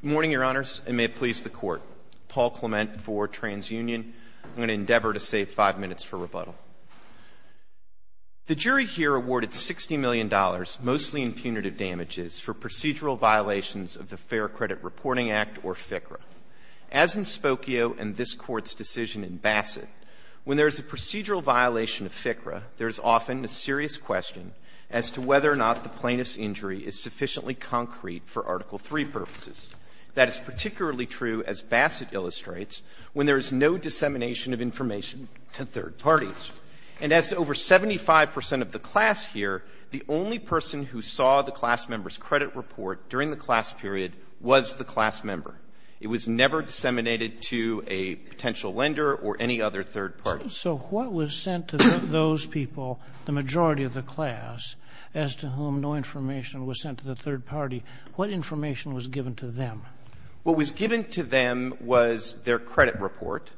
Good morning, your honors, and may it please the court. Paul Clement for Trans Union. I'm going to endeavor to save five minutes for rebuttal. The jury here awarded $60 million, mostly in punitive damages, for procedural violations of the Fair Credit Reporting Act, or FCRA. As in Spokio and this Court's decision in Bassett, when there is a procedural violation of FCRA, there is often a serious question as to whether or not the plaintiff's injury is sufficiently concrete for Article III purposes. That is particularly true, as Bassett illustrates, when there is no dissemination of information to third parties. And as to over 75% of the class here, the only person who saw the class member's credit report during the class period was the class member. It was never disseminated to a potential lender or any other third party. So what was sent to those people, the majority of the class, as to whom no information was sent to the third party? What information was given to them? What was given to them was their credit report,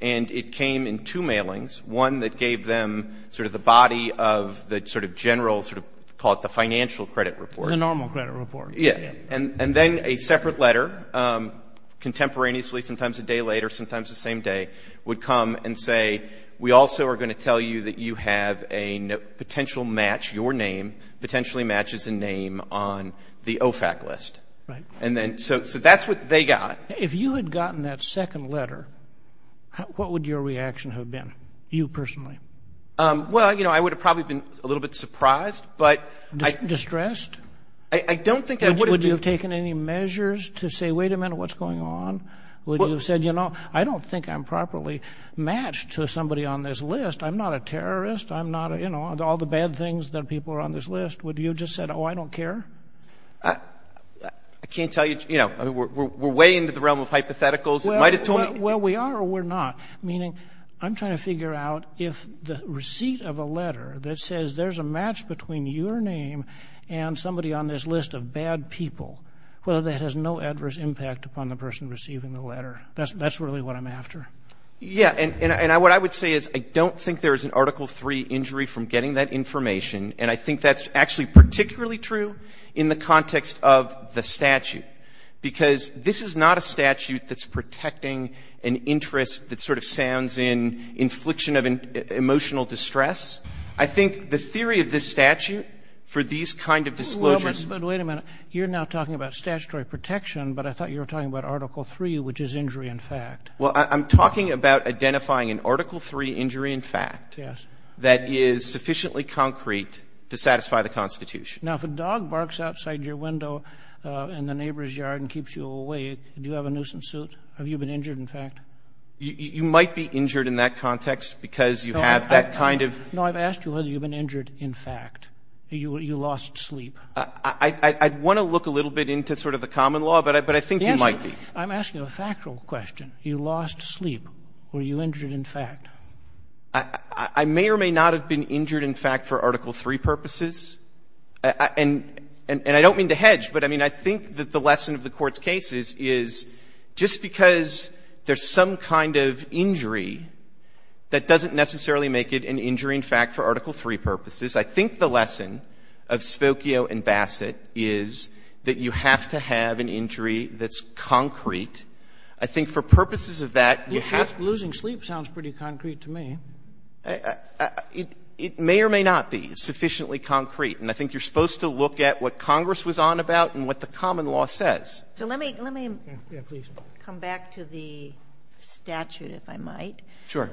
and it came in two mailings, one that gave them sort of the body of the sort of general sort of, call it the financial credit report. The normal credit report. Yes. And then a separate letter, contemporaneously, sometimes a day later, sometimes the same day, would come and say, we also are going to tell you that you have a potential match, your name, potentially matches a name on the OFAC list. Right. And then, so that's what they got. If you had gotten that second letter, what would your reaction have been, you personally? Well, you know, I would have probably been a little bit surprised. Distressed? I don't think I would have been. Would you have taken any measures to say, wait a minute, what's going on? Would you have said, you know, I don't think I'm properly matched to somebody on this list. I'm not a terrorist. I'm not, you know, all the bad things that people are on this list. Would you have just said, oh, I don't care? I can't tell you, you know, we're way into the realm of hypotheticals. Well, we are or we're not, meaning I'm trying to figure out if the receipt of a letter that says there's a match between your name and somebody on this list of bad people, whether that has no adverse impact upon the person receiving the letter. That's really what I'm after. Yeah. And what I would say is I don't think there is an Article III injury from getting that information, and I think that's actually particularly true in the context of the statute, because this is not a statute that's protecting an interest that sort of sounds in infliction of emotional distress. I think the theory of this statute for these kind of disclosures — Roberts, but wait a minute. You're now talking about statutory protection, but I thought you were talking about Article III, which is injury in fact. Well, I'm talking about identifying an Article III injury in fact — Yes. — that is sufficiently concrete to satisfy the Constitution. Now, if a dog barks outside your window in the neighbor's yard and keeps you awake, do you have a nuisance suit? Have you been injured in fact? You might be injured in that context because you have that kind of — No, I've asked you whether you've been injured in fact. You lost sleep. I want to look a little bit into sort of the common law, but I think you might be. I'm asking a factual question. You lost sleep. Were you injured in fact? I may or may not have been injured in fact for Article III purposes. And I don't mean to hedge, but, I mean, I think that the lesson of the Court's case is, just because there's some kind of injury, that doesn't necessarily make it an injury in fact for Article III purposes. I think the lesson of Spokio and Bassett is that you have to have an injury that's concrete. I think for purposes of that, you have to — Losing sleep sounds pretty concrete to me. It may or may not be sufficiently concrete. And I think you're supposed to look at what Congress was on about and what the common law says. So let me come back to the statute, if I might. Sure.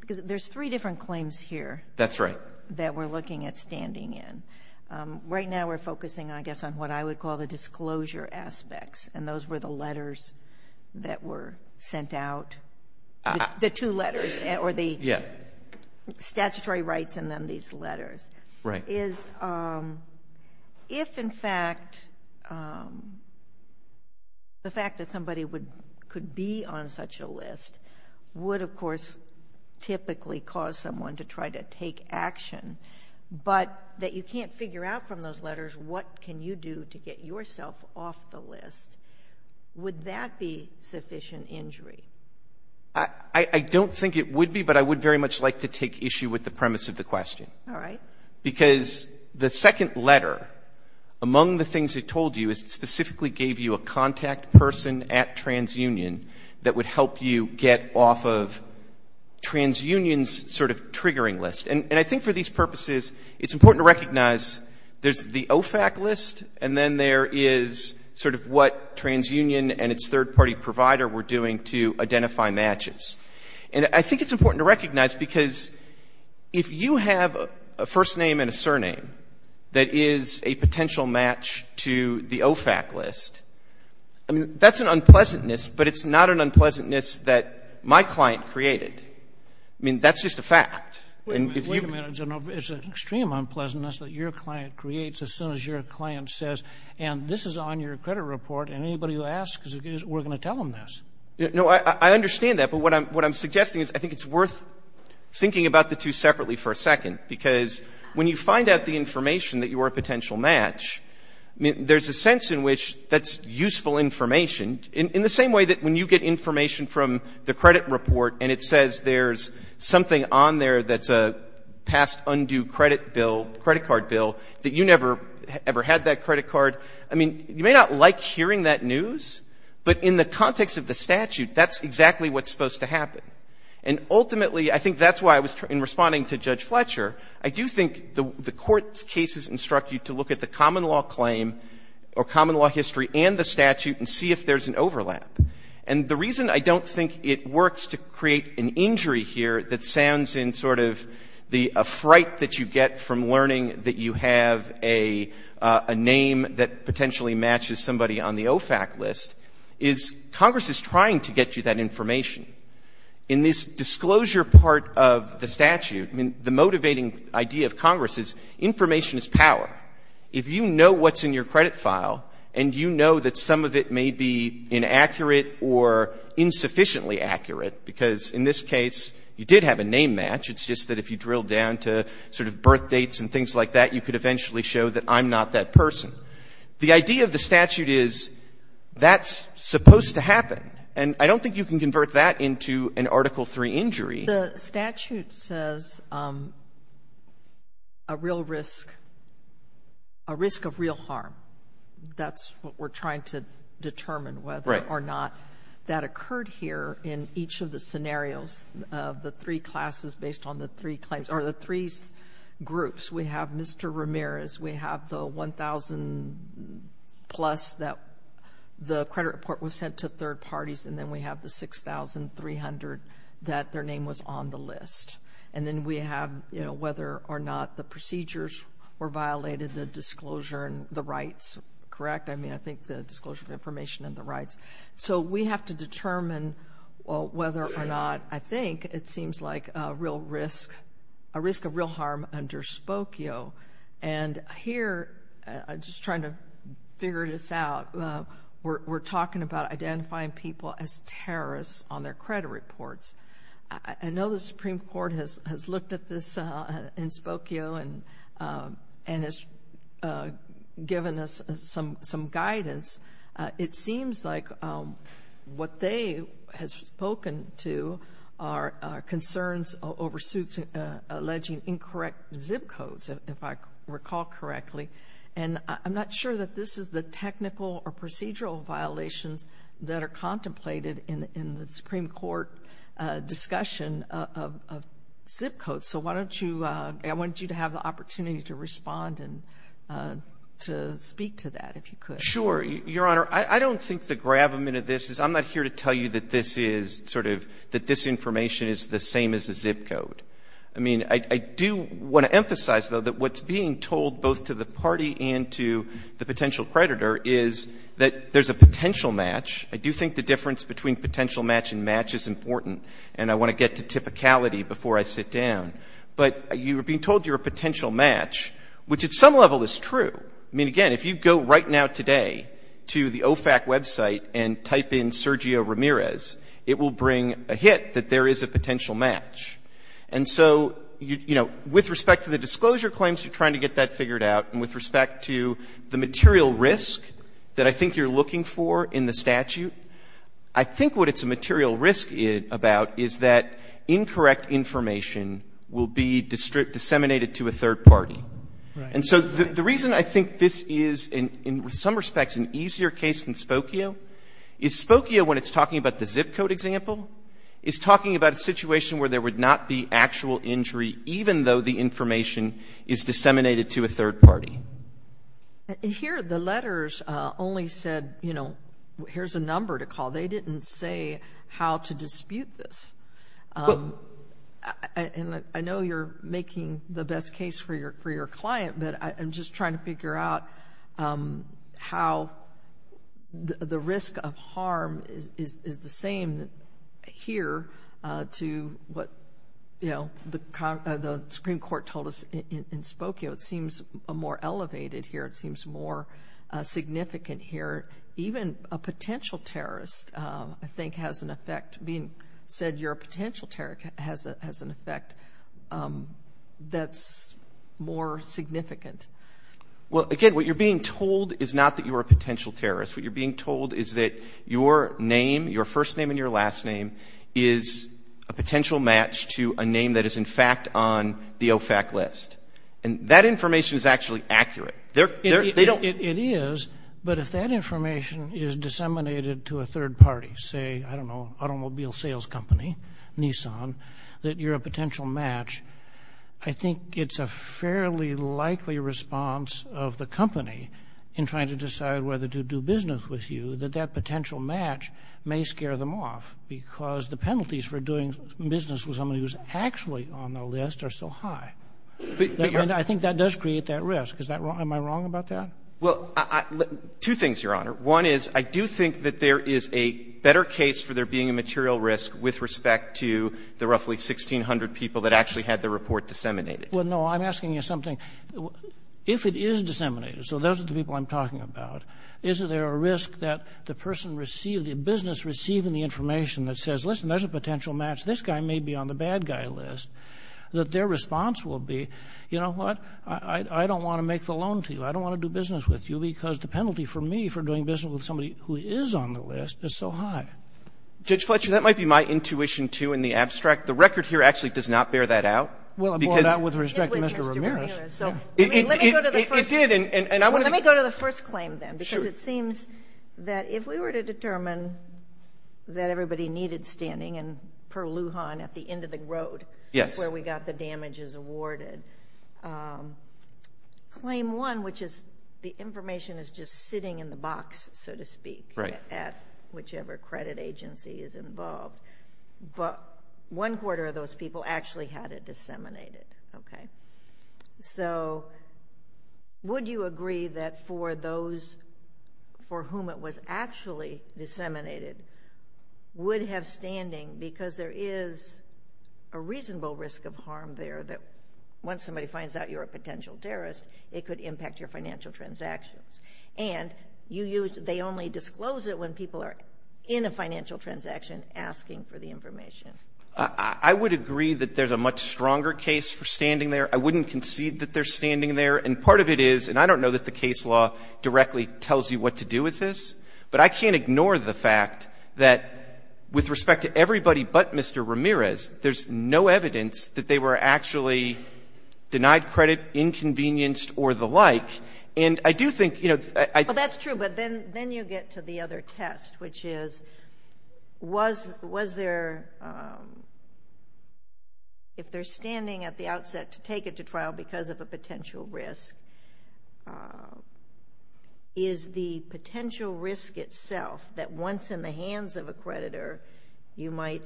Because there's three different claims here. That's right. That we're looking at standing in. Right now we're focusing, I guess, on what I would call the disclosure aspects. And those were the letters that were sent out, the two letters, or the statutory rights in them, these letters. Right. And my question is, if in fact the fact that somebody could be on such a list would, of course, typically cause someone to try to take action, but that you can't figure out from those letters what can you do to get yourself off the list, would that be sufficient injury? I don't think it would be, but I would very much like to take issue with the premise of the question. All right. Because the second letter, among the things it told you, is it specifically gave you a contact person at TransUnion that would help you get off of TransUnion's sort of triggering list. And I think for these purposes, it's important to recognize there's the OFAC list, and then there is sort of what TransUnion and its third-party provider were doing to identify matches. And I think it's important to recognize, because if you have a first name and a surname that is a potential match to the OFAC list, I mean, that's an unpleasantness, but it's not an unpleasantness that my client created. I mean, that's just a fact. Wait a minute. It's an extreme unpleasantness that your client creates as soon as your client says, and this is on your credit report, and anybody who asks, we're going to tell them this. No, I understand that, but what I'm suggesting is I think it's worth thinking about the two separately for a second, because when you find out the information that you are a potential match, there's a sense in which that's useful information, in the same way that when you get information from the credit report and it says there's something on there that's a past undue credit bill, credit card bill, that you never ever had that credit card. I mean, you may not like hearing that news, but in the context of the statute, that's exactly what's supposed to happen. And ultimately, I think that's why I was, in responding to Judge Fletcher, I do think the court's cases instruct you to look at the common law claim or common law history and the statute and see if there's an overlap. And the reason I don't think it works to create an injury here that sounds in sort of the fright that you get from learning that you have a name that potentially matches somebody on the OFAC list is Congress is trying to get you that information. In this disclosure part of the statute, I mean, the motivating idea of Congress is information is power. If you know what's in your credit file and you know that some of it may be inaccurate or insufficiently accurate, because in this case, you did have a name match. It's just that if you drill down to sort of birthdates and things like that, you could eventually show that I'm not that person. The idea of the statute is that's supposed to happen. And I don't think you can convert that into an Article III injury. The statute says a real risk, a risk of real harm. That's what we're trying to determine whether or not that occurred here in each of the scenarios of the three classes based on the three claims or the three groups. We have Mr. Ramirez. We have the 1,000-plus that the credit report was sent to third parties. And then we have the 6,300 that their name was on the list. And then we have, you know, whether or not the procedures were violated, the disclosure and the rights, correct? I mean, I think the disclosure of information and the rights. So we have to determine whether or not, I think, it seems like a real risk, a risk of real harm under Spokio. And here, just trying to figure this out, we're talking about identifying people as terrorists on their credit reports. I know the Supreme Court has looked at this in Spokio and has given us some guidance. It seems like what they have spoken to are concerns over suits alleging incorrect zip codes, if I recall correctly. And I'm not sure that this is the technical or procedural violations that are contemplated in the Supreme Court discussion of zip codes. So why don't you, I want you to have the opportunity to respond and to speak to that, if you could. Sure. Your Honor, I don't think the gravamen of this is, I'm not here to tell you that this is sort of, that this information is the same as a zip code. I mean, I do want to emphasize, though, that what's being told both to the party and to the potential creditor is that there's a potential match. I do think the difference between potential match and match is important. And I want to get to typicality before I sit down. But you're being told you're a potential match, which at some level is true. I mean, again, if you go right now today to the OFAC website and type in Sergio Ramirez, it will bring a hit that there is a potential match. And so, you know, with respect to the disclosure claims, you're trying to get that figured out. And with respect to the material risk that I think you're looking for in the statute, I think what it's a material risk about is that incorrect information will be disseminated to a third party. Right. And so the reason I think this is, in some respects, an easier case than Spokio is Spokio, when it's talking about the zip code example, is talking about a situation where there would not be actual injury, even though the information is disseminated to a third party. Here, the letters only said, you know, here's a number to call. They didn't say how to dispute this. And I know you're making the best case for your client, but I'm just trying to figure out how the risk of harm is the same here to what, you know, the Supreme Court told us in Spokio. It seems more elevated here. It seems more significant here. Even a potential terrorist, I think, has an effect. Being said you're a potential terrorist has an effect that's more significant. Well, again, what you're being told is not that you're a potential terrorist. What you're being told is that your name, your first name and your last name, is a potential match to a name that is, in fact, on the OFAC list. And that information is actually accurate. It is, but if that information is disseminated to a third party, say, I don't know, automobile sales company, Nissan, that you're a potential match, I think it's a fairly likely response of the company in trying to decide whether to do business with you that that potential match may scare them off because the penalties for doing business with somebody who's actually on the list are so high. I think that does create that risk. Am I wrong about that? Well, two things, Your Honor. One is I do think that there is a better case for there being a material risk with respect to the roughly 1,600 people that actually had the report disseminated. Well, no, I'm asking you something. If it is disseminated, so those are the people I'm talking about, is there a risk that the person received, the business receiving the information that says, listen, there's a potential match, this guy may be on the bad guy list, that their response will be, you know what, I don't want to make the loan to you, I don't want to do business with you because the penalty for me for doing business with somebody who is on the list is so high. Judge Fletcher, that might be my intuition, too, in the abstract. The record here actually does not bear that out. Well, I brought it out with respect to Mr. Ramirez. It did with Mr. Ramirez. It did. The information that everybody needed standing in Pearl, Lujan, at the end of the road where we got the damages awarded, claim one, which is the information is just sitting in the box, so to speak, at whichever credit agency is involved, but one quarter of those people actually had it disseminated, okay? So would you agree that for those for whom it was actually disseminated would have standing because there is a reasonable risk of harm there that once somebody finds out you're a potential terrorist, it could impact your financial transactions? And they only disclose it when people are in a financial transaction asking for the information. I would agree that there's a much stronger case for standing there. I wouldn't concede that they're standing there. And part of it is, and I don't know that the case law directly tells you what to do with this, but I can't ignore the fact that with respect to everybody but Mr. Ramirez, there's no evidence that they were actually denied credit, inconvenienced, or the like. And I do think, you know, I think... Well, that's true, but then you get to the other test, which is was there, if they're to trial because of a potential risk, is the potential risk itself that once in the hands of a creditor, you might,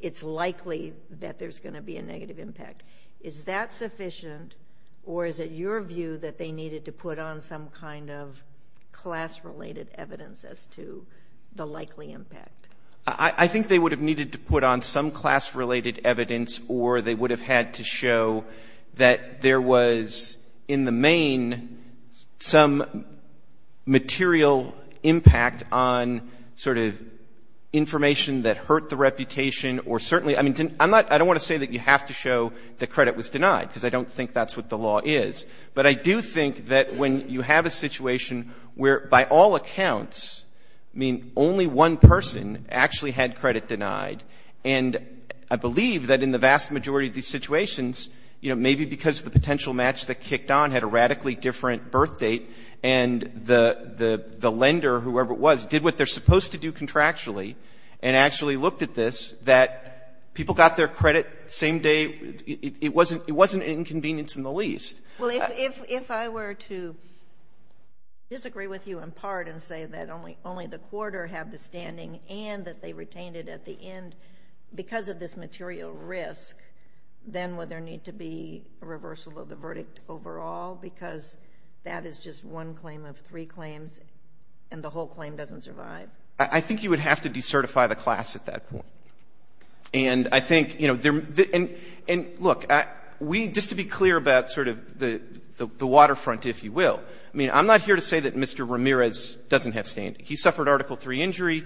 it's likely that there's going to be a negative impact, is that sufficient or is it your view that they needed to put on some kind of class-related evidence as to the likely impact? I think they would have needed to put on some class-related evidence or they would have had to show that there was in the main some material impact on sort of information that hurt the reputation or certainly, I mean, I don't want to say that you have to show that credit was denied because I don't think that's what the law is. But I do think that when you have a situation where by all accounts, I mean, only one person actually had credit denied, and I believe that in the vast majority of these situations, you know, maybe because the potential match that kicked on had a radically different birth date and the lender, whoever it was, did what they're supposed to do contractually and actually looked at this, that people got their credit same day. It wasn't an inconvenience in the least. Well, if I were to disagree with you in part and say that only the quarter had the standing and that they retained it at the end because of this material risk, then would there need to be a reversal of the verdict overall because that is just one claim of three claims and the whole claim doesn't survive? I think you would have to decertify the class at that point. And I think, you know, and look, we, just to be clear about sort of the waterfront, if you will, I mean, I'm not here to say that Mr. Ramirez doesn't have standing. He suffered Article III injury.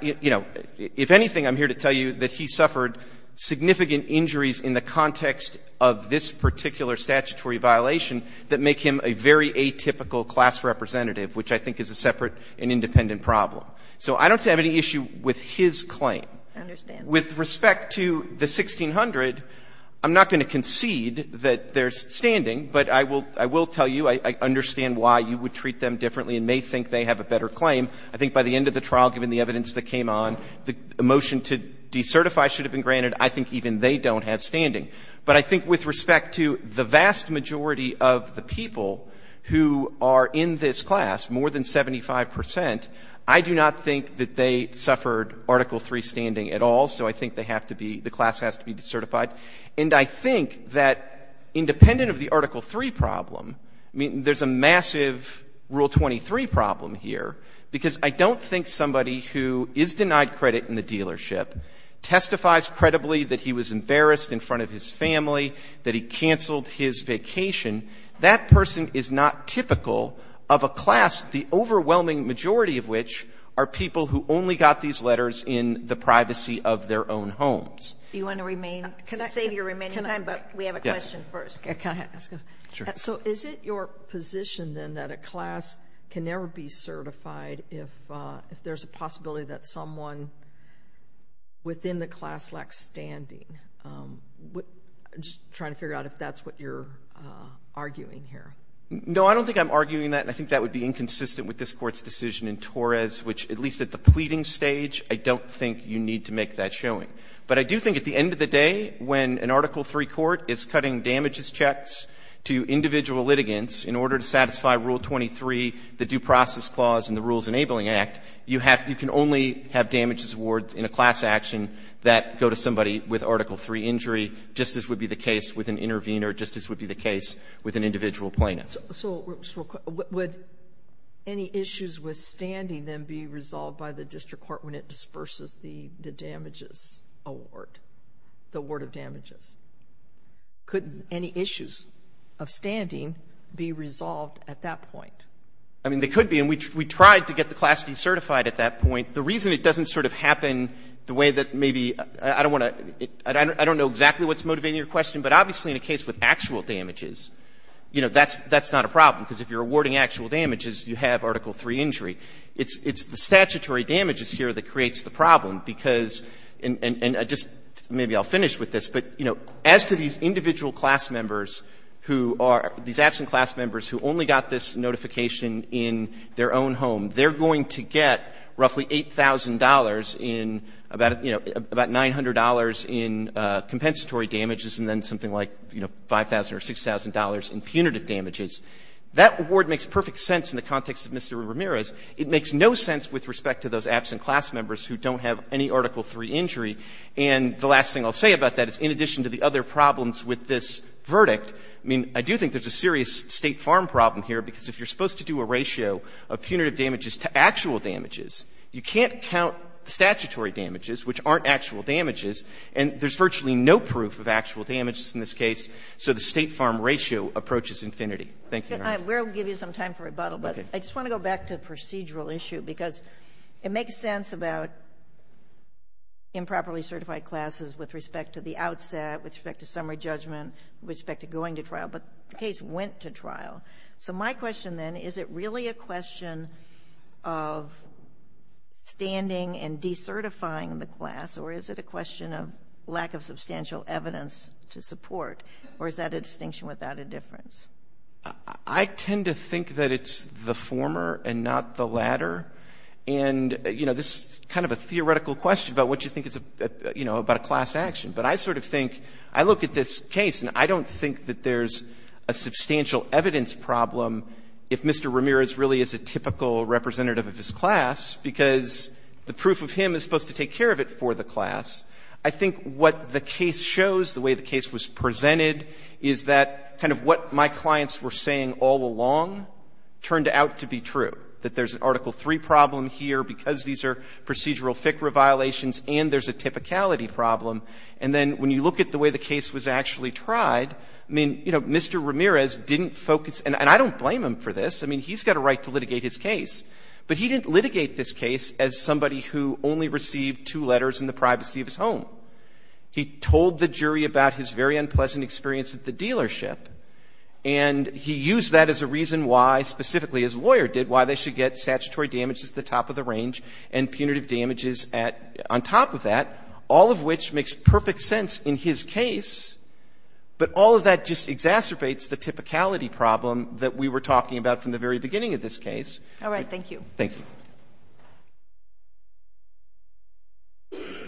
You know, if anything, I'm here to tell you that he suffered significant injuries in the context of this particular statutory violation that make him a very atypical class representative, which I think is a separate and independent problem. So I don't have any issue with his claim. I understand. With respect to the 1600, I'm not going to concede that there's standing, but I will tell you I understand why you would treat them differently and may think they have a better claim. I think by the end of the trial, given the evidence that came on, the motion to decertify should have been granted. I think even they don't have standing. But I think with respect to the vast majority of the people who are in this class, more than 75 percent, I do not think that they suffered Article III standing at all. So I think they have to be, the class has to be decertified. And I think that independent of the Article III problem, I mean, there's a massive Rule 23 problem here, because I don't think somebody who is denied credit in the dealership testifies credibly that he was embarrassed in front of his family, that he canceled his vacation. That person is not typical of a class, the overwhelming majority of which are people who only got these letters in the privacy of their own homes. Do you want to remain, save your remaining time, but we have a question first. Can I ask a question? Sure. So is it your position then that a class can never be certified if there's a possibility that someone within the class lacks standing? I'm just trying to figure out if that's what you're arguing here. No, I don't think I'm arguing that, and I think that would be inconsistent with this Court's decision in Torres, which at least at the pleading stage, I don't think you need to make that showing. But I do think at the end of the day, when an Article III court is cutting damages checks to individual litigants in order to satisfy Rule 23, the Due Process Clause, and the Rules Enabling Act, you can only have damages awards in a class action that go to somebody with Article III injury, just as would be the case with an intervener, just as would be the case with an individual plaintiff. So would any issues with standing then be resolved by the district court when it would award the award of damages? Could any issues of standing be resolved at that point? I mean, they could be, and we tried to get the class decertified at that point. The reason it doesn't sort of happen the way that maybe – I don't want to – I don't know exactly what's motivating your question, but obviously in a case with actual damages, you know, that's not a problem, because if you're awarding actual damages, you have Article III injury. It's the statutory damages here that creates the problem, because – and just maybe I'll finish with this, but, you know, as to these individual class members who are – these absent class members who only got this notification in their own home, they're going to get roughly $8,000 in about, you know, about $900 in compensatory damages and then something like, you know, $5,000 or $6,000 in punitive damages. That award makes perfect sense in the context of Mr. Ramirez. It makes no sense with respect to those absent class members who don't have any Article III injury. And the last thing I'll say about that is, in addition to the other problems with this verdict, I mean, I do think there's a serious State farm problem here, because if you're supposed to do a ratio of punitive damages to actual damages, you can't count the statutory damages, which aren't actual damages, and there's virtually no proof of actual damages in this case, so the State farm ratio approaches infinity. Thank you, Your Honor. We'll give you some time for rebuttal, but I just want to go back to the procedural issue, because it makes sense about improperly certified classes with respect to the outset, with respect to summary judgment, with respect to going to trial, but the case went to trial. So my question then, is it really a question of standing and decertifying the class, or is it a question of lack of substantial evidence to support, or is that a distinction without a difference? I tend to think that it's the former and not the latter. And, you know, this is kind of a theoretical question about what you think, you know, about a class action. But I sort of think, I look at this case, and I don't think that there's a substantial evidence problem if Mr. Ramirez really is a typical representative of his class, because the proof of him is supposed to take care of it for the class. I think what the case shows, the way the case was presented, is that kind of what my clients were saying all along turned out to be true, that there's an Article III problem here because these are procedural FICRA violations and there's a typicality problem. And then when you look at the way the case was actually tried, I mean, you know, Mr. Ramirez didn't focus, and I don't blame him for this. I mean, he's got a right to litigate his case. But he didn't litigate this case as somebody who only received two letters in the privacy of his home. He told the jury about his very unpleasant experience at the dealership, and he used that as a reason why, specifically as a lawyer did, why they should get statutory damages at the top of the range and punitive damages on top of that, all of which makes perfect sense in his case, but all of that just exacerbates the typicality problem that we were talking about from the very beginning of this case. All right. Thank you. Thank you. Please.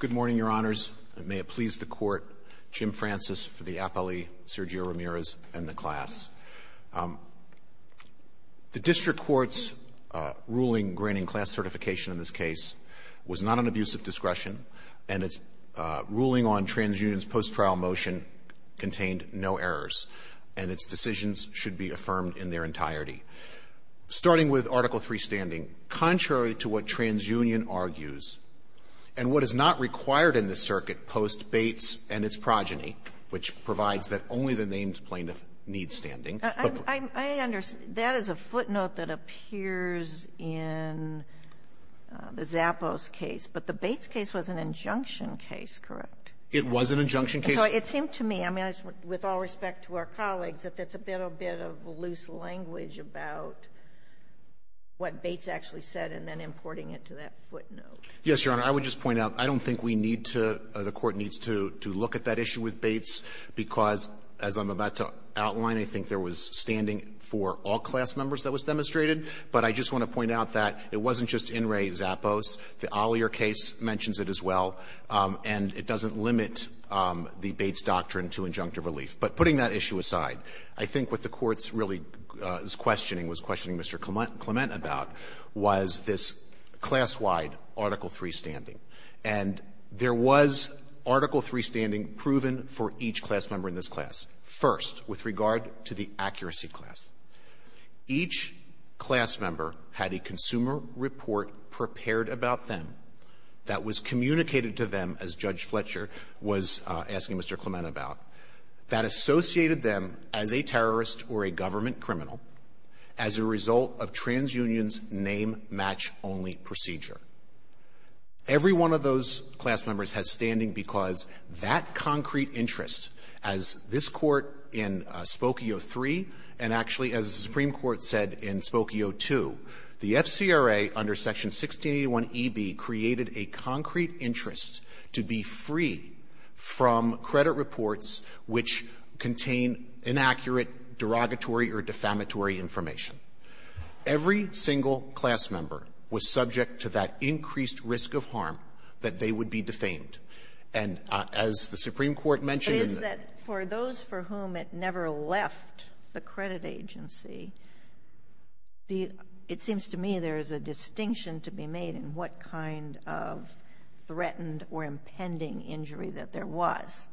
Good morning, Your Honors, and may it please the Court, Jim Francis for the appellee, Sergio Ramirez, and the class. The district court's ruling granting class certification in this case was not an abuse of discretion, and its ruling on TransUnion's post-trial motion contained no errors, and its decisions should be affirmed in their entirety. Starting with Article III standing, contrary to what TransUnion argues, and what is not required in this circuit post Bates and its progeny, which provides that only the named plaintiff needs standing, but the plaintiff needs standing. Sotomayor, the Bates case was an injunction case, correct? It was an injunction case. So it seemed to me, I mean, with all respect to our colleagues, that that's a little bit of loose language about what Bates actually said and then importing it to that footnote. Yes, Your Honor. I would just point out, I don't think we need to or the Court needs to look at that issue with Bates, because as I'm about to outline, I think there was standing for all class members that was demonstrated, but I just want to point out that it wasn't just In re Zappos. The Ollier case mentions it as well, and it doesn't limit the Bates doctrine to injunctive relief. But putting that issue aside, I think what the Court's really questioning, was questioning Mr. Clement about, was this class-wide Article III standing. And there was Article III standing proven for each class member in this class. First, with regard to the accuracy class, each class member had a consumer report prepared about them that was communicated to them, as Judge Fletcher was asking Mr. Clement about, that associated them as a terrorist or a government criminal as a result of trans-union's name-match-only procedure. Every one of those class members has standing because that concrete interest, as this Court in Spokio III, and actually as the Supreme Court said in Spokio II, the FCRA under Section 1681EB created a concrete interest to be free from credit reports which contain inaccurate, derogatory or defamatory information. Every single class member was subject to that increased risk of harm that they would be defamed. And as the Supreme Court mentioned in the ---- It seems to me there is a distinction to be made in what kind of threatened or impending injury that there was.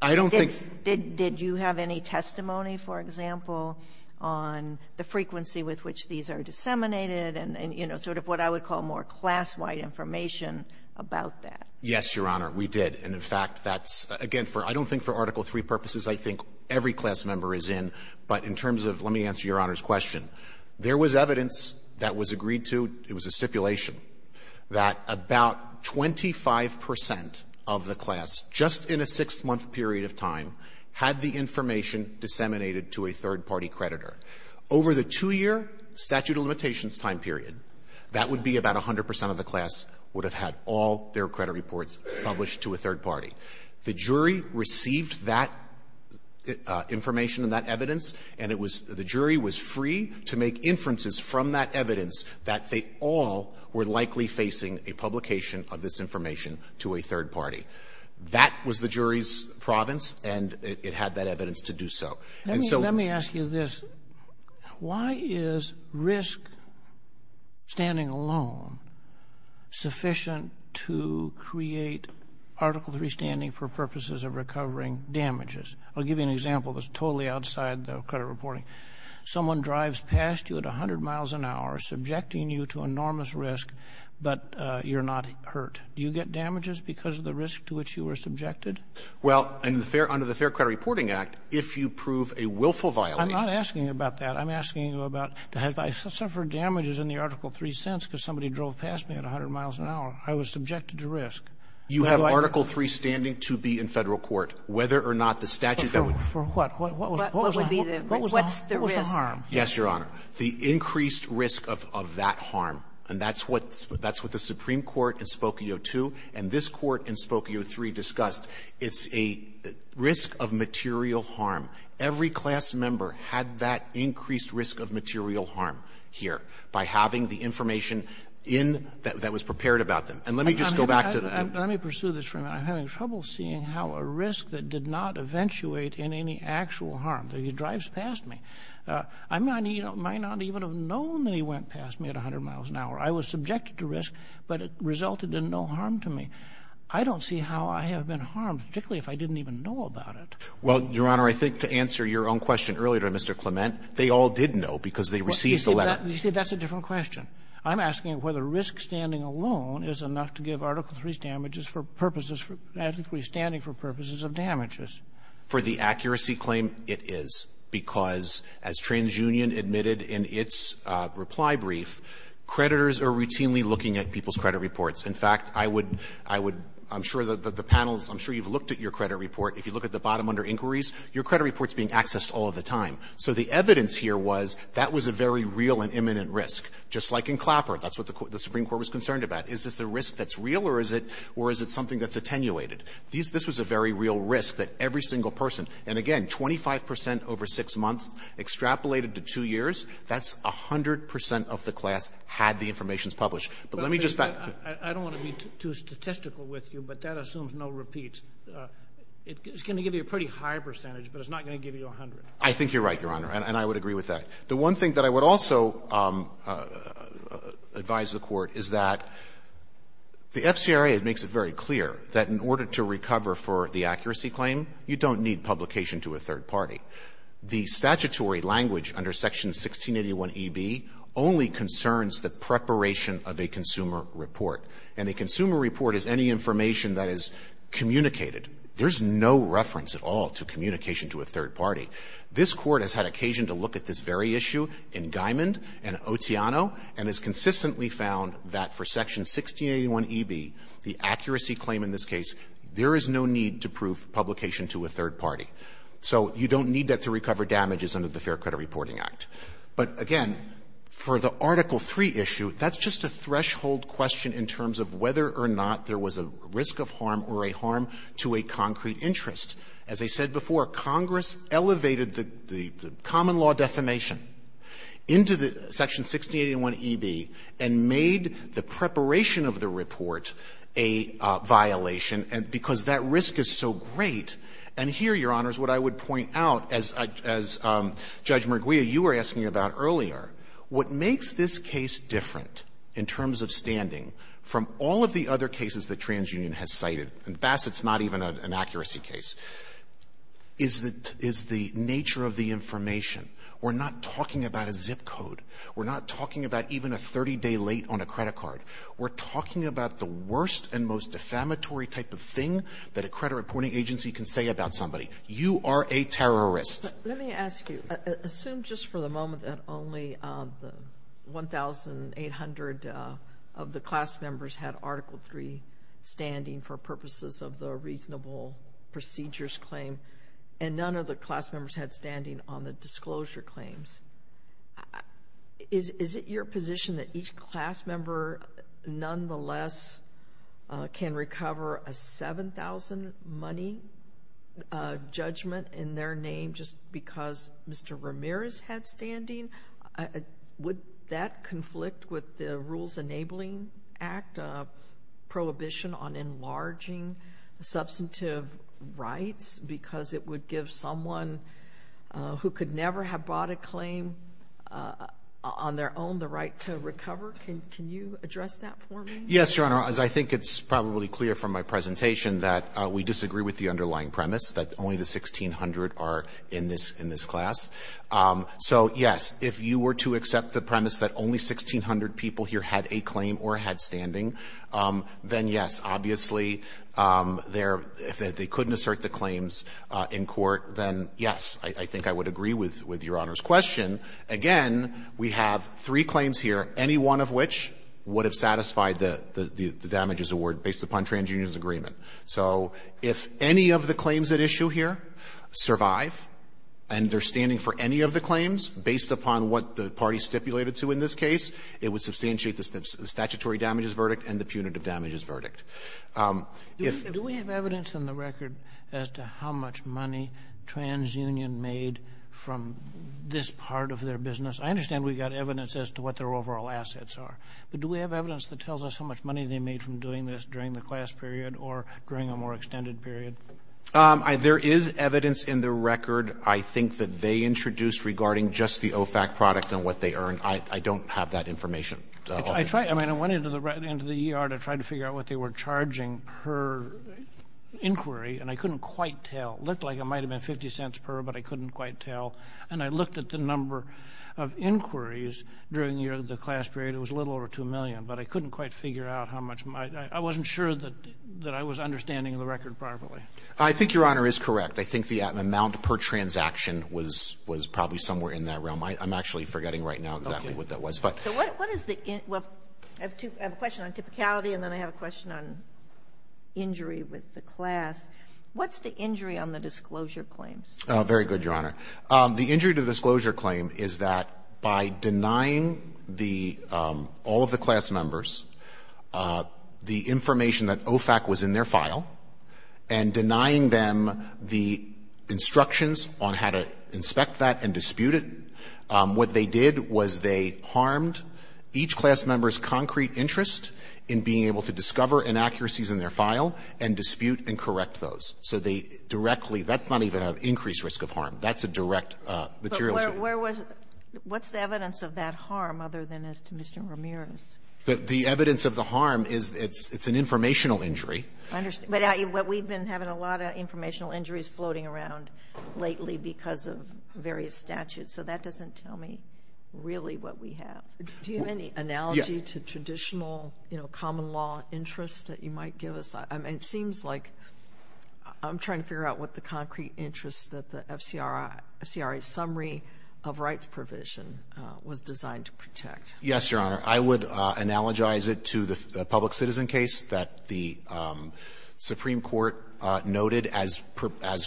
I don't think ---- Did you have any testimony, for example, on the frequency with which these are disseminated and, you know, sort of what I would call more class-wide information about that? Yes, Your Honor, we did. And, in fact, that's, again, for ---- I don't think for Article III purposes, I think every class member is in, but in terms of ---- let me answer Your Honor's question. There was evidence that was agreed to, it was a stipulation, that about 25 percent of the class, just in a six-month period of time, had the information disseminated to a third-party creditor. Over the two-year statute of limitations time period, that would be about 100 percent of the class would have had all their credit reports published to a third party. The jury received that information and that evidence, and it was ---- the jury was free to make inferences from that evidence that they all were likely facing a publication of this information to a third party. That was the jury's province, and it had that evidence to do so. And so ---- Let me ask you this. Why is risk-standing alone sufficient to create Article III standing for purposes of recovering damages? I'll give you an example that's totally outside the credit reporting. Someone drives past you at 100 miles an hour, subjecting you to enormous risk, but you're not hurt. Do you get damages because of the risk to which you were subjected? Well, under the Fair Credit Reporting Act, if you prove a willful violation I'm not asking about that. I'm asking about if I suffered damages in the Article III sense because somebody drove past me at 100 miles an hour, I was subjected to risk. You have Article III standing to be in Federal court, whether or not the statute that would For what? What was the What would be the What's the risk? Yes, Your Honor. The increased risk of that harm, and that's what the Supreme Court in Spokio 2 and this Court in Spokio 3 discussed. It's a risk of material harm. Every class member had that increased risk of material harm here by having the information in that was prepared about them. And let me just go back to Let me pursue this for a minute. I'm having trouble seeing how a risk that did not eventuate in any actual harm. He drives past me. I might not even have known that he went past me at 100 miles an hour. I was subjected to risk, but it resulted in no harm to me. I don't see how I have been harmed, particularly if I didn't even know about it. Well, Your Honor, I think to answer your own question earlier to Mr. Clement, they all did know because they received the letter. You see, that's a different question. I'm asking whether risk standing alone is enough to give Article III's damages for purposes, Article III standing for purposes of damages. For the accuracy claim, it is, because as TransUnion admitted in its reply brief, creditors are routinely looking at people's credit reports. In fact, I would – I'm sure that the panels – I'm sure you've looked at your credit report. If you look at the bottom under inquiries, your credit report's being accessed all the time. So the evidence here was that was a very real and imminent risk, just like in Clapper. That's what the Supreme Court was concerned about. Is this the risk that's real or is it something that's attenuated? This was a very real risk that every single person, and again, 25 percent over 6 months, extrapolated to 2 years, that's 100 percent of the class had the information published. But let me just back up. I don't want to be too statistical with you, but that assumes no repeats. It's going to give you a pretty high percentage, but it's not going to give you 100. I think you're right, Your Honor, and I would agree with that. The one thing that I would also advise the Court is that the FCRA makes it very clear that in order to recover for the accuracy claim, you don't need publication to a third party. The statutory language under Section 1681eb only concerns the preparation of a consumer report, and a consumer report is any information that is communicated. There's no reference at all to communication to a third party. This Court has had occasion to look at this very issue in Guymond and Otiano and has found that in this case, there is no need to prove publication to a third party. So you don't need that to recover damages under the Fair Credit Reporting Act. But again, for the Article III issue, that's just a threshold question in terms of whether or not there was a risk of harm or a harm to a concrete interest. As I said before, Congress elevated the common law defamation into the Section 1681eb and made the preparation of the report a violation because that risk is so great. And here, Your Honors, what I would point out, as Judge Merguia, you were asking about earlier, what makes this case different in terms of standing from all of the other cases that TransUnion has cited, and Bassett's not even an accuracy case, is the nature of the information. We're not talking about a zip code. We're not talking about even a 30-day late on a credit card. We're talking about the worst and most defamatory type of thing that a credit reporting agency can say about somebody. You are a terrorist. Let me ask you, assume just for the moment that only 1,800 of the class members had Article III standing for purposes of the reasonable procedures claim and none of the other class members had standing on the disclosure claims, is it your position that each class member nonetheless can recover a 7,000-money judgment in their name just because Mr. Ramirez had standing? Would that conflict with the Rules Enabling Act prohibition on enlarging substantive rights because it would give someone who could never have brought a claim on their own the right to recover? Can you address that for me? Yes, Your Honor. As I think it's probably clear from my presentation that we disagree with the underlying premise that only the 1,600 are in this class. So, yes, if you were to accept the premise that only 1,600 people here had a claim or had standing, then, yes, obviously, if they couldn't assert the claims in court, then, yes, I think I would agree with Your Honor's question. Again, we have three claims here, any one of which would have satisfied the damages award based upon TransUnion's agreement. So if any of the claims at issue here survive and they're standing for any of the claims based upon what the parties stipulated to in this case, it would substantiate the statutory damages verdict and the punitive damages verdict. Do we have evidence in the record as to how much money TransUnion made from this part of their business? I understand we've got evidence as to what their overall assets are, but do we have evidence that tells us how much money they made from doing this during the class period or during a more extended period? There is evidence in the record, I think, that they introduced regarding just the OFAC product and what they earned. I don't have that information. I tried, I mean, I went into the ER to try to figure out what they were charging per inquiry, and I couldn't quite tell. It looked like it might have been 50 cents per, but I couldn't quite tell. And I looked at the number of inquiries during the class period. It was a little over 2 million, but I couldn't quite figure out how much. I wasn't sure that I was understanding the record properly. I think Your Honor is correct. I think the amount per transaction was probably somewhere in that realm. I'm actually forgetting right now exactly what that was. So what is the – well, I have a question on typicality, and then I have a question on injury with the class. What's the injury on the disclosure claims? Very good, Your Honor. The injury to the disclosure claim is that by denying the – all of the class members the information that OFAC was in their file and denying them the instructions on how to inspect that and dispute it, what they did was they harmed each class member's concrete interest in being able to discover inaccuracies in their file and dispute and correct those. So they directly – that's not even an increased risk of harm. That's a direct material issue. But where was – what's the evidence of that harm other than as to Mr. Ramirez? The evidence of the harm is it's an informational injury. I understand. But we've been having a lot of informational injuries floating around lately because of various statutes. So that doesn't tell me really what we have. Do you have any analogy to traditional common law interest that you might give us? It seems like – I'm trying to figure out what the concrete interest that the FCRA summary of rights provision was designed to protect. Yes, Your Honor. I would analogize it to the public citizen case that the Supreme Court noted as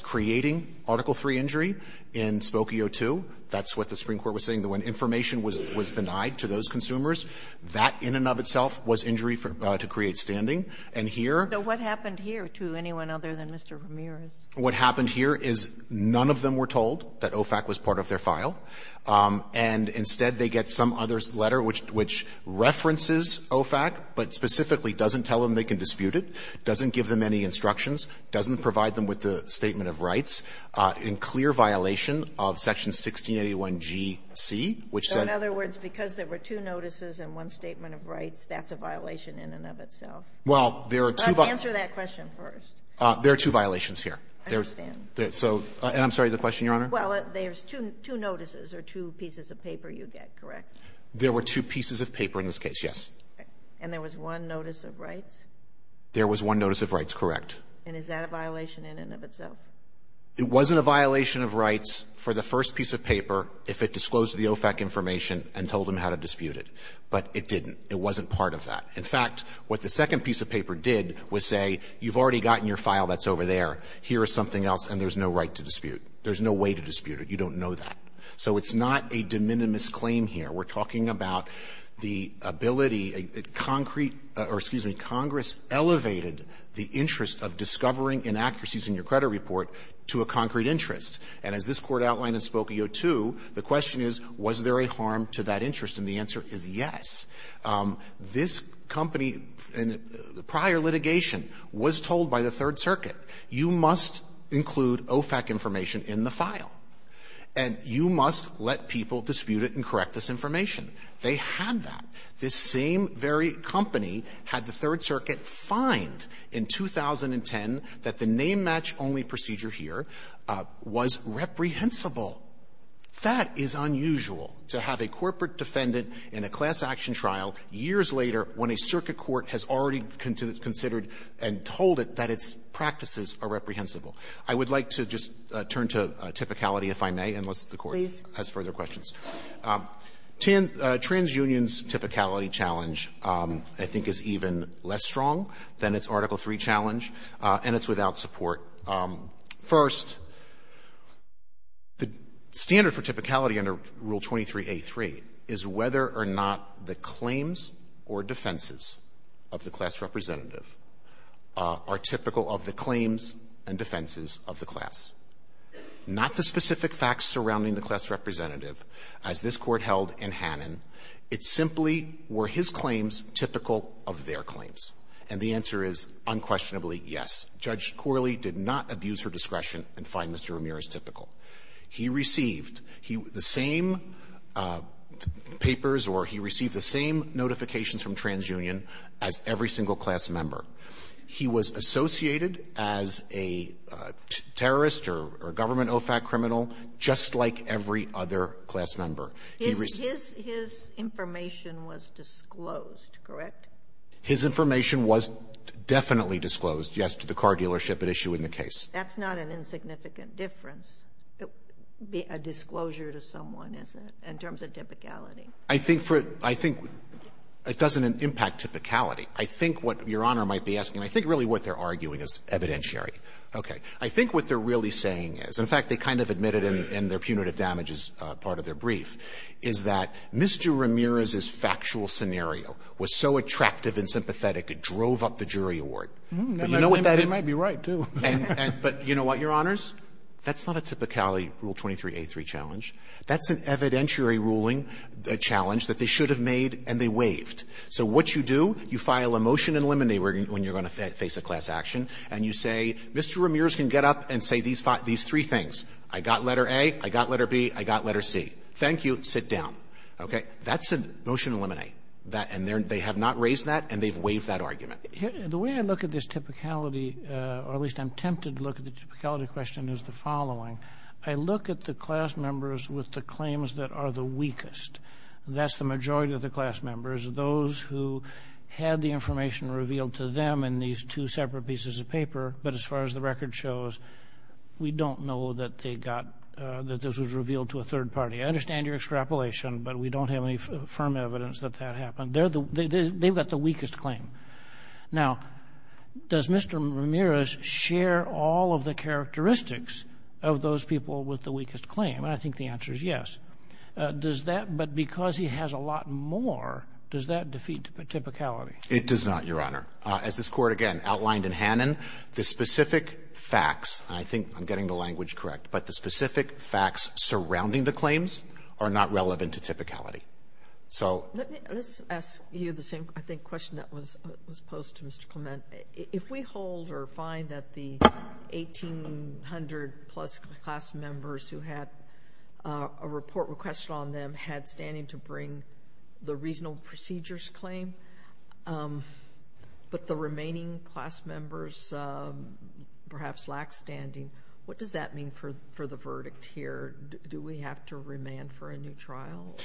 creating Article III injury in Spokio II. That's what the Supreme Court was saying, that when information was denied to those consumers, that in and of itself was injury to create standing. And here – So what happened here to anyone other than Mr. Ramirez? What happened here is none of them were told that OFAC was part of their file. And instead, they get some other letter which references OFAC, but specifically doesn't tell them they can dispute it, doesn't give them any instructions, doesn't provide them with the statement of rights, in clear violation of Section 1681GC, which said – So in other words, because there were two notices and one statement of rights, that's a violation in and of itself? Well, there are two – Answer that question first. There are two violations here. I understand. So – and I'm sorry, the question, Your Honor? Well, there's two notices or two pieces of paper you get, correct? There were two pieces of paper in this case, yes. Okay. And there was one notice of rights? There was one notice of rights, correct. And is that a violation in and of itself? It wasn't a violation of rights for the first piece of paper if it disclosed the OFAC information and told them how to dispute it. But it didn't. It wasn't part of that. In fact, what the second piece of paper did was say, you've already gotten your file that's over there. Here is something else, and there's no right to dispute. There's no way to dispute it. You don't know that. So it's not a de minimis claim here. We're talking about the ability, a concrete – or, excuse me, Congress elevated the interest of discovering inaccuracies in your credit report to a concrete interest. And as this Court outlined in Spokio 2, the question is, was there a harm to that interest? And the answer is yes. This company, in prior litigation, was told by the Third Circuit, you must include OFAC information in the file, and you must let people dispute it and correct this information. They had that. This same very company had the Third Circuit find in 2010 that the name-match-only procedure here was reprehensible. That is unusual, to have a corporate defendant in a class-action trial years later when a circuit court has already considered and told it that its practices are reprehensible. I would like to just turn to Typicality, if I may, unless the Court has further questions. TransUnion's Typicality challenge, I think, is even less strong than its Article III challenge, and it's without support. First, the standard for Typicality under Rule 23a3 is whether or not the claims or defenses of the class representative are typical of the claims and defenses of the class. Not the specific facts surrounding the class representative as this Court held in Hannon. It's simply, were his claims typical of their claims? And the answer is unquestionably yes. Judge Corley did not abuse her discretion and find Mr. Ramirez typical. He received the same papers or he received the same notifications from TransUnion as every single class member. He was associated as a terrorist or government OFAC criminal just like every other class member. He received the same information. His information was disclosed, correct? His information was definitely disclosed, yes, to the car dealership at issue in the case. That's not an insignificant difference, a disclosure to someone, is it, in terms of Typicality? I think for it — I think it doesn't impact Typicality. I think what Your Honor might be asking, I think really what they're arguing is evidentiary. Okay. I think what they're really saying is, in fact, they kind of admitted in their punitive damages part of their brief, is that Mr. Ramirez's factual scenario was so attractive and sympathetic it drove up the jury award. But you know what that is? They might be right, too. But you know what, Your Honors? That's not a Typicality Rule 23a3 challenge. That's an evidentiary ruling challenge that they should have made and they waived. So what you do, you file a motion in limine when you're going to face a class action, and you say, Mr. Ramirez can get up and say these three things. I got letter A, I got letter B, I got letter C. Thank you. Sit down. Okay? That's a motion in limine. And they have not raised that and they've waived that argument. The way I look at this Typicality, or at least I'm tempted to look at the Typicality question, is the following. I look at the class members with the claims that are the weakest. That's the majority of the class members. Those who had the information revealed to them in these two separate pieces of paper, but as far as the record shows, we don't know that they got, that this was revealed to a third party. I understand your extrapolation, but we don't have any firm evidence that that happened. They're the, they've got the weakest claim. Now, does Mr. Ramirez share all of the characteristics of those people with the weakest claim? And I think the answer is yes. Does that, but because he has a lot more, does that defeat Typicality? It does not, Your Honor. As this Court, again, outlined in Hannon, the specific facts, and I think I'm getting the language correct, but the specific facts surrounding the claims are not relevant to Typicality. So. Let me, let's ask you the same, I think, question that was posed to Mr. Clement. If we hold or find that the 1,800 plus class members who had a report requested on them had standing to bring the reasonable procedures claim, but the remaining class members perhaps lack standing, what does that mean for the verdict here? Do we have to remand for a new trial?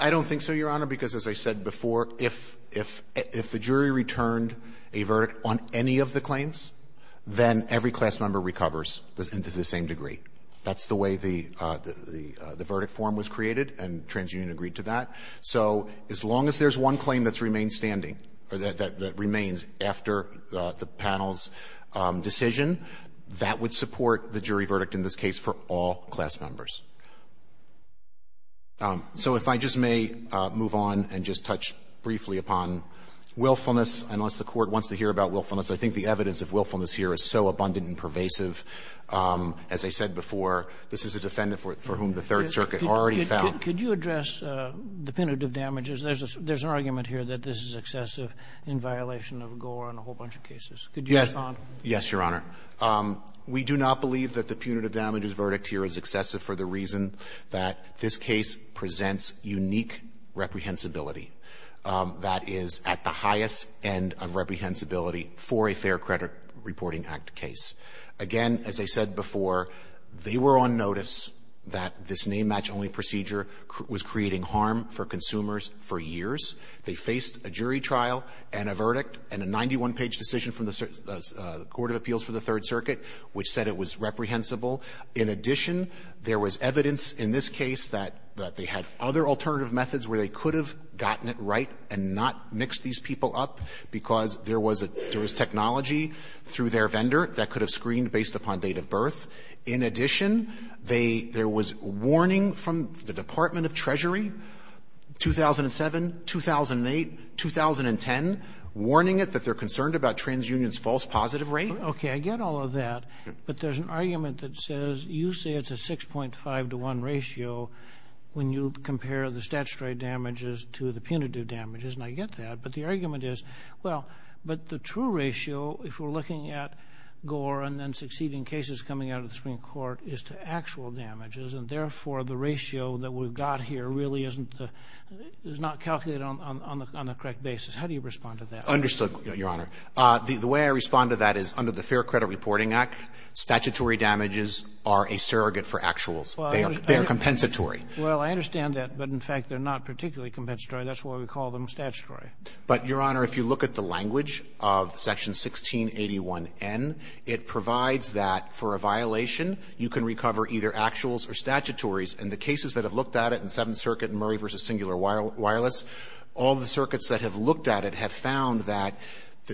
I don't think so, Your Honor, because as I said before, if the jury returned a verdict on any of the claims, then every class member recovers to the same degree. That's the way the verdict form was created, and TransUnion agreed to that. So as long as there's one claim that remains standing, or that remains after the panel's decision, that would support the jury verdict in this case for all class members. So if I just may move on and just touch briefly upon willfulness, unless the Court wants to hear about willfulness. I think the evidence of willfulness here is so abundant and pervasive. As I said before, this is a defendant for whom the Third Circuit already found. Could you address the punitive damages? There's an argument here that this is excessive in violation of Gore and a whole bunch of cases. Could you respond? Yes, Your Honor. We do not believe that the punitive damages verdict here is excessive for the reason that this case presents unique reprehensibility. That is at the highest end of reprehensibility for a Fair Credit Reporting Act case. Again, as I said before, they were on notice that this name-match only procedure was creating harm for consumers for years. They faced a jury trial and a verdict and a 91-page decision from the Court of Appeals for the Third Circuit which said it was reprehensible. In addition, there was evidence in this case that they had other alternative methods where they could have gotten it right and not mix these people up, because there was technology through their vendor that could have screened based upon date of birth. In addition, there was warning from the Department of Treasury, 2007, 2008, 2010, warning it that they're concerned about TransUnion's false positive rate. Okay, I get all of that, but there's an argument that says you say it's a 6.5 to 1 ratio when you compare the statutory damages to the punitive damages, and I get that, but the argument is, well, but the true ratio, if we're looking at Gore and then succeeding cases coming out of the Supreme Court, is to actual damages, and therefore, the ratio that we've got here really is not calculated on the correct basis. How do you respond to that? Understood, Your Honor. The way I respond to that is under the Fair Credit Reporting Act, statutory damages are a surrogate for actuals. They are compensatory. Well, I understand that, but in fact, they're not particularly compensatory. That's why we call them statutory. But, Your Honor, if you look at the language of Section 1681n, it provides that for a violation, you can recover either actuals or statutories, and the cases that have looked at it in Seventh Circuit and Murray v. Singular Wireless, all the circuits that have looked at it have found that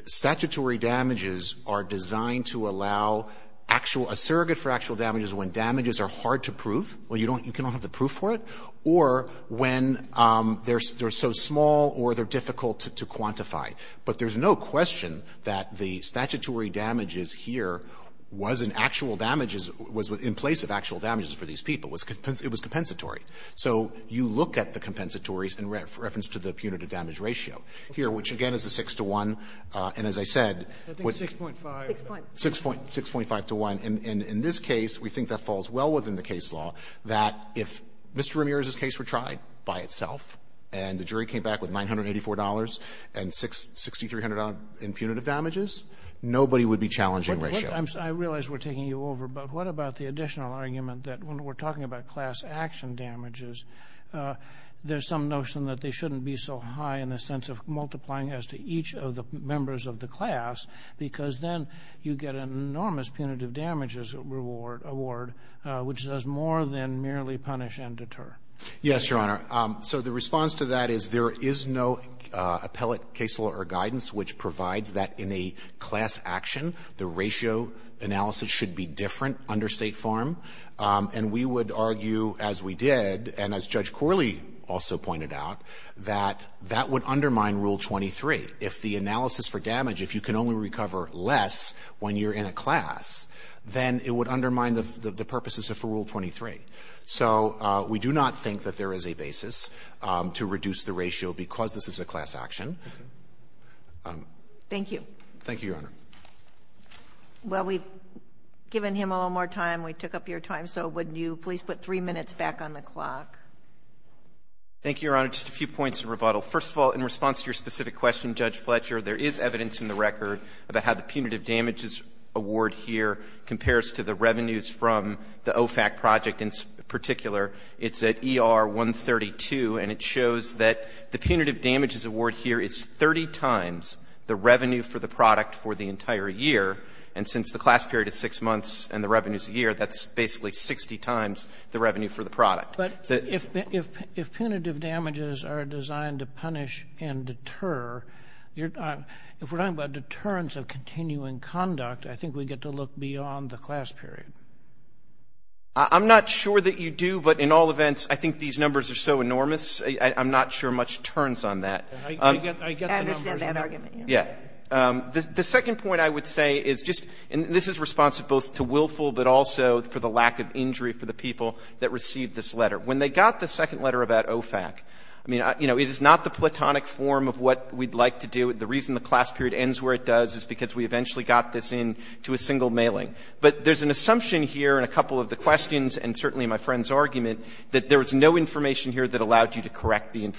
statutory damages are designed to allow actual – a surrogate for actual damages when damages are hard to prove, when you don't – you can't have the proof for it, or when they're so small or they're difficult to quantify. But there's no question that the statutory damages here was an actual damages – was in place of actual damages for these people. It was compensatory. So you look at the compensatories in reference to the punitive damage ratio here, which, again, is a 6-to-1. And as I said, what's – 6.5. 6.5. 6.5-to-1. And in this case, we think that falls well within the case law, that if Mr. Ramirez's case were tried by itself and the jury came back with $984 and $6,300 in punitive damages, nobody would be challenging ratio. I realize we're taking you over, but what about the additional argument that when we're talking about class-action damages, there's some notion that they shouldn't be so high in the sense of multiplying as to each of the members of the class, because then you get an enormous punitive damages reward – award, which does more than merely punish and deter. Yes, Your Honor. So the response to that is there is no appellate case law or guidance which provides that in a class action, the ratio analysis should be different under State form. And we would argue, as we did, and as Judge Corley also pointed out, that that would undermine Rule 23. If the analysis for damage, if you can only recover less when you're in a class, then it would undermine the purposes of Rule 23. So we do not think that there is a basis to reduce the ratio because this is a class action. Thank you. Thank you, Your Honor. Well, we've given him a little more time. We took up your time, so would you please put three minutes back on the clock? Thank you, Your Honor. Just a few points of rebuttal. First of all, in response to your specific question, Judge Fletcher, there is evidence in the record about how the punitive damages award here compares to the revenues from the OFAC project in particular. It's at ER 132, and it shows that the punitive damages award here is 30 times the revenue for the entire year, and since the class period is 6 months and the revenue is a year, that's basically 60 times the revenue for the product. But if punitive damages are designed to punish and deter, if we're talking about deterrence of continuing conduct, I think we'd get to look beyond the class period. I'm not sure that you do, but in all events, I think these numbers are so enormous, I'm not sure much turns on that. I get the numbers. I understand that argument, yes. The second point I would say is just, and this is responsive both to Willful, but also for the lack of injury for the people that received this letter. When they got the second letter about OFAC, I mean, you know, it is not the platonic form of what we'd like to do. The reason the class period ends where it does is because we eventually got this in to a single mailing. But there's an assumption here in a couple of the questions and certainly in my friend's argument that there was no information here that allowed you to correct the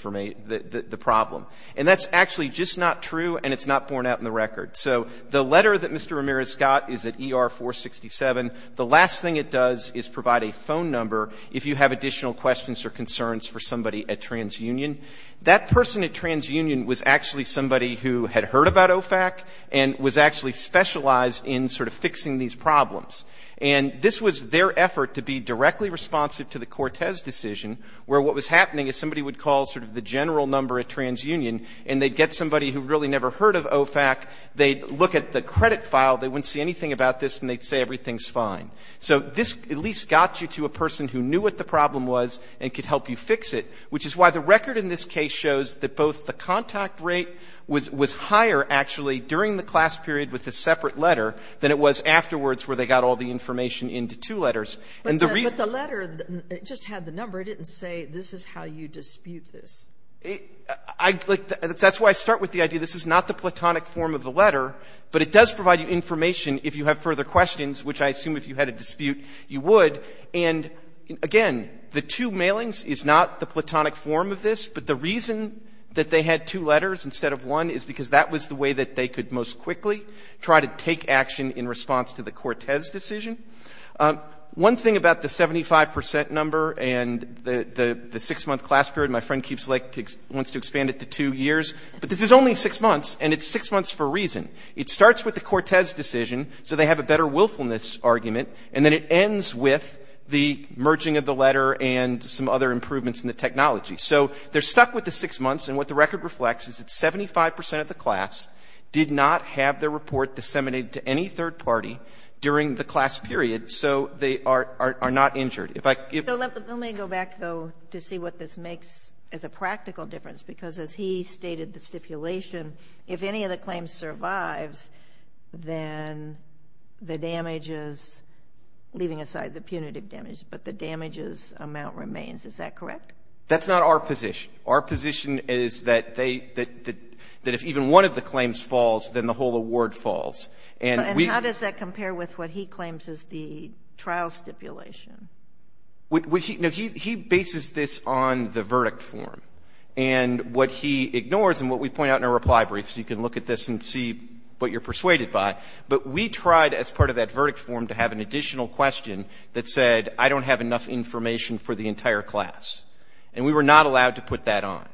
problem. And that's actually just not true and it's not borne out in the record. So the letter that Mr. Ramirez got is at ER 467. The last thing it does is provide a phone number if you have additional questions or concerns for somebody at TransUnion. That person at TransUnion was actually somebody who had heard about OFAC and was actually specialized in sort of fixing these problems. And this was their effort to be directly responsive to the Cortez decision where what was happening is somebody would call sort of the general number at TransUnion and they'd get somebody who really never heard of OFAC. They'd look at the credit file. They wouldn't see anything about this and they'd say everything's fine. So this at least got you to a person who knew what the problem was and could help you fix it, which is why the record in this case shows that both the contact rate was higher actually during the class period with the separate letter than it was afterwards where they got all the information into two letters. And the reason But the letter just had the number. It didn't say this is how you dispute this. That's why I start with the idea this is not the platonic form of the letter, but it does provide you information if you have further questions, which I assume if you had a dispute you would. And again, the two mailings is not the platonic form of this. But the reason that they had two letters instead of one is because that was the way that they could most quickly try to take action in response to the Cortez decision. One thing about the 75% number and the six-month class period, my friend keeps like wants to expand it to two years, but this is only six months and it's six months for a reason. It starts with the Cortez decision so they have a better willfulness argument and then it ends with the merging of the letter and some other improvements in the technology. So they're stuck with the six months and what the record reflects is that 75% of the party during the class period, so they are not injured. If I can give you... Let me go back, though, to see what this makes as a practical difference, because as he stated the stipulation, if any of the claims survives, then the damages, leaving aside the punitive damage, but the damages amount remains. Is that correct? That's not our position. Our position is that if even one of the claims falls, then the whole award falls. And how does that compare with what he claims is the trial stipulation? He bases this on the verdict form and what he ignores and what we point out in our reply brief, so you can look at this and see what you're persuaded by, but we tried as part of that verdict form to have an additional question that said, I don't have enough information for the entire class. And we were not allowed to put that on.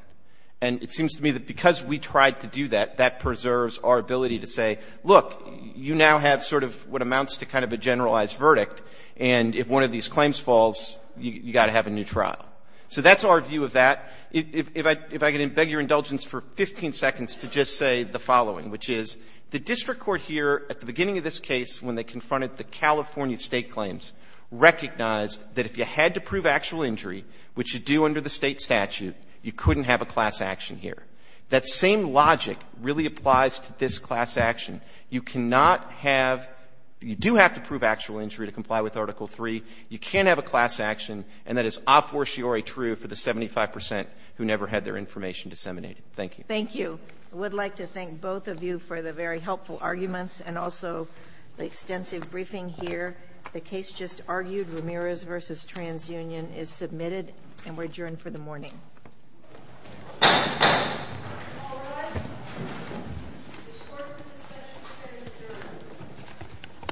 And it seems to me that because we tried to do that, that preserves our ability to say, look, you now have sort of what amounts to kind of a generalized verdict, and if one of these claims falls, you've got to have a new trial. So that's our view of that. If I can beg your indulgence for 15 seconds to just say the following, which is, the district court here at the beginning of this case, when they confronted the California state claims, recognized that if you had to prove actual injury, which you do under the state statute, you couldn't have a class action here. That same logic really applies to this class action. You cannot have, you do have to prove actual injury to comply with Article III. You can't have a class action, and that is a fortiori true for the 75% who never had their information disseminated. Thank you. Thank you. I would like to thank both of you for the very helpful arguments and also the extensive briefing here. The case just argued, Ramirez v. TransUnion, is submitted and we're adjourned for the morning. All rise. This court is in session to hear the jury.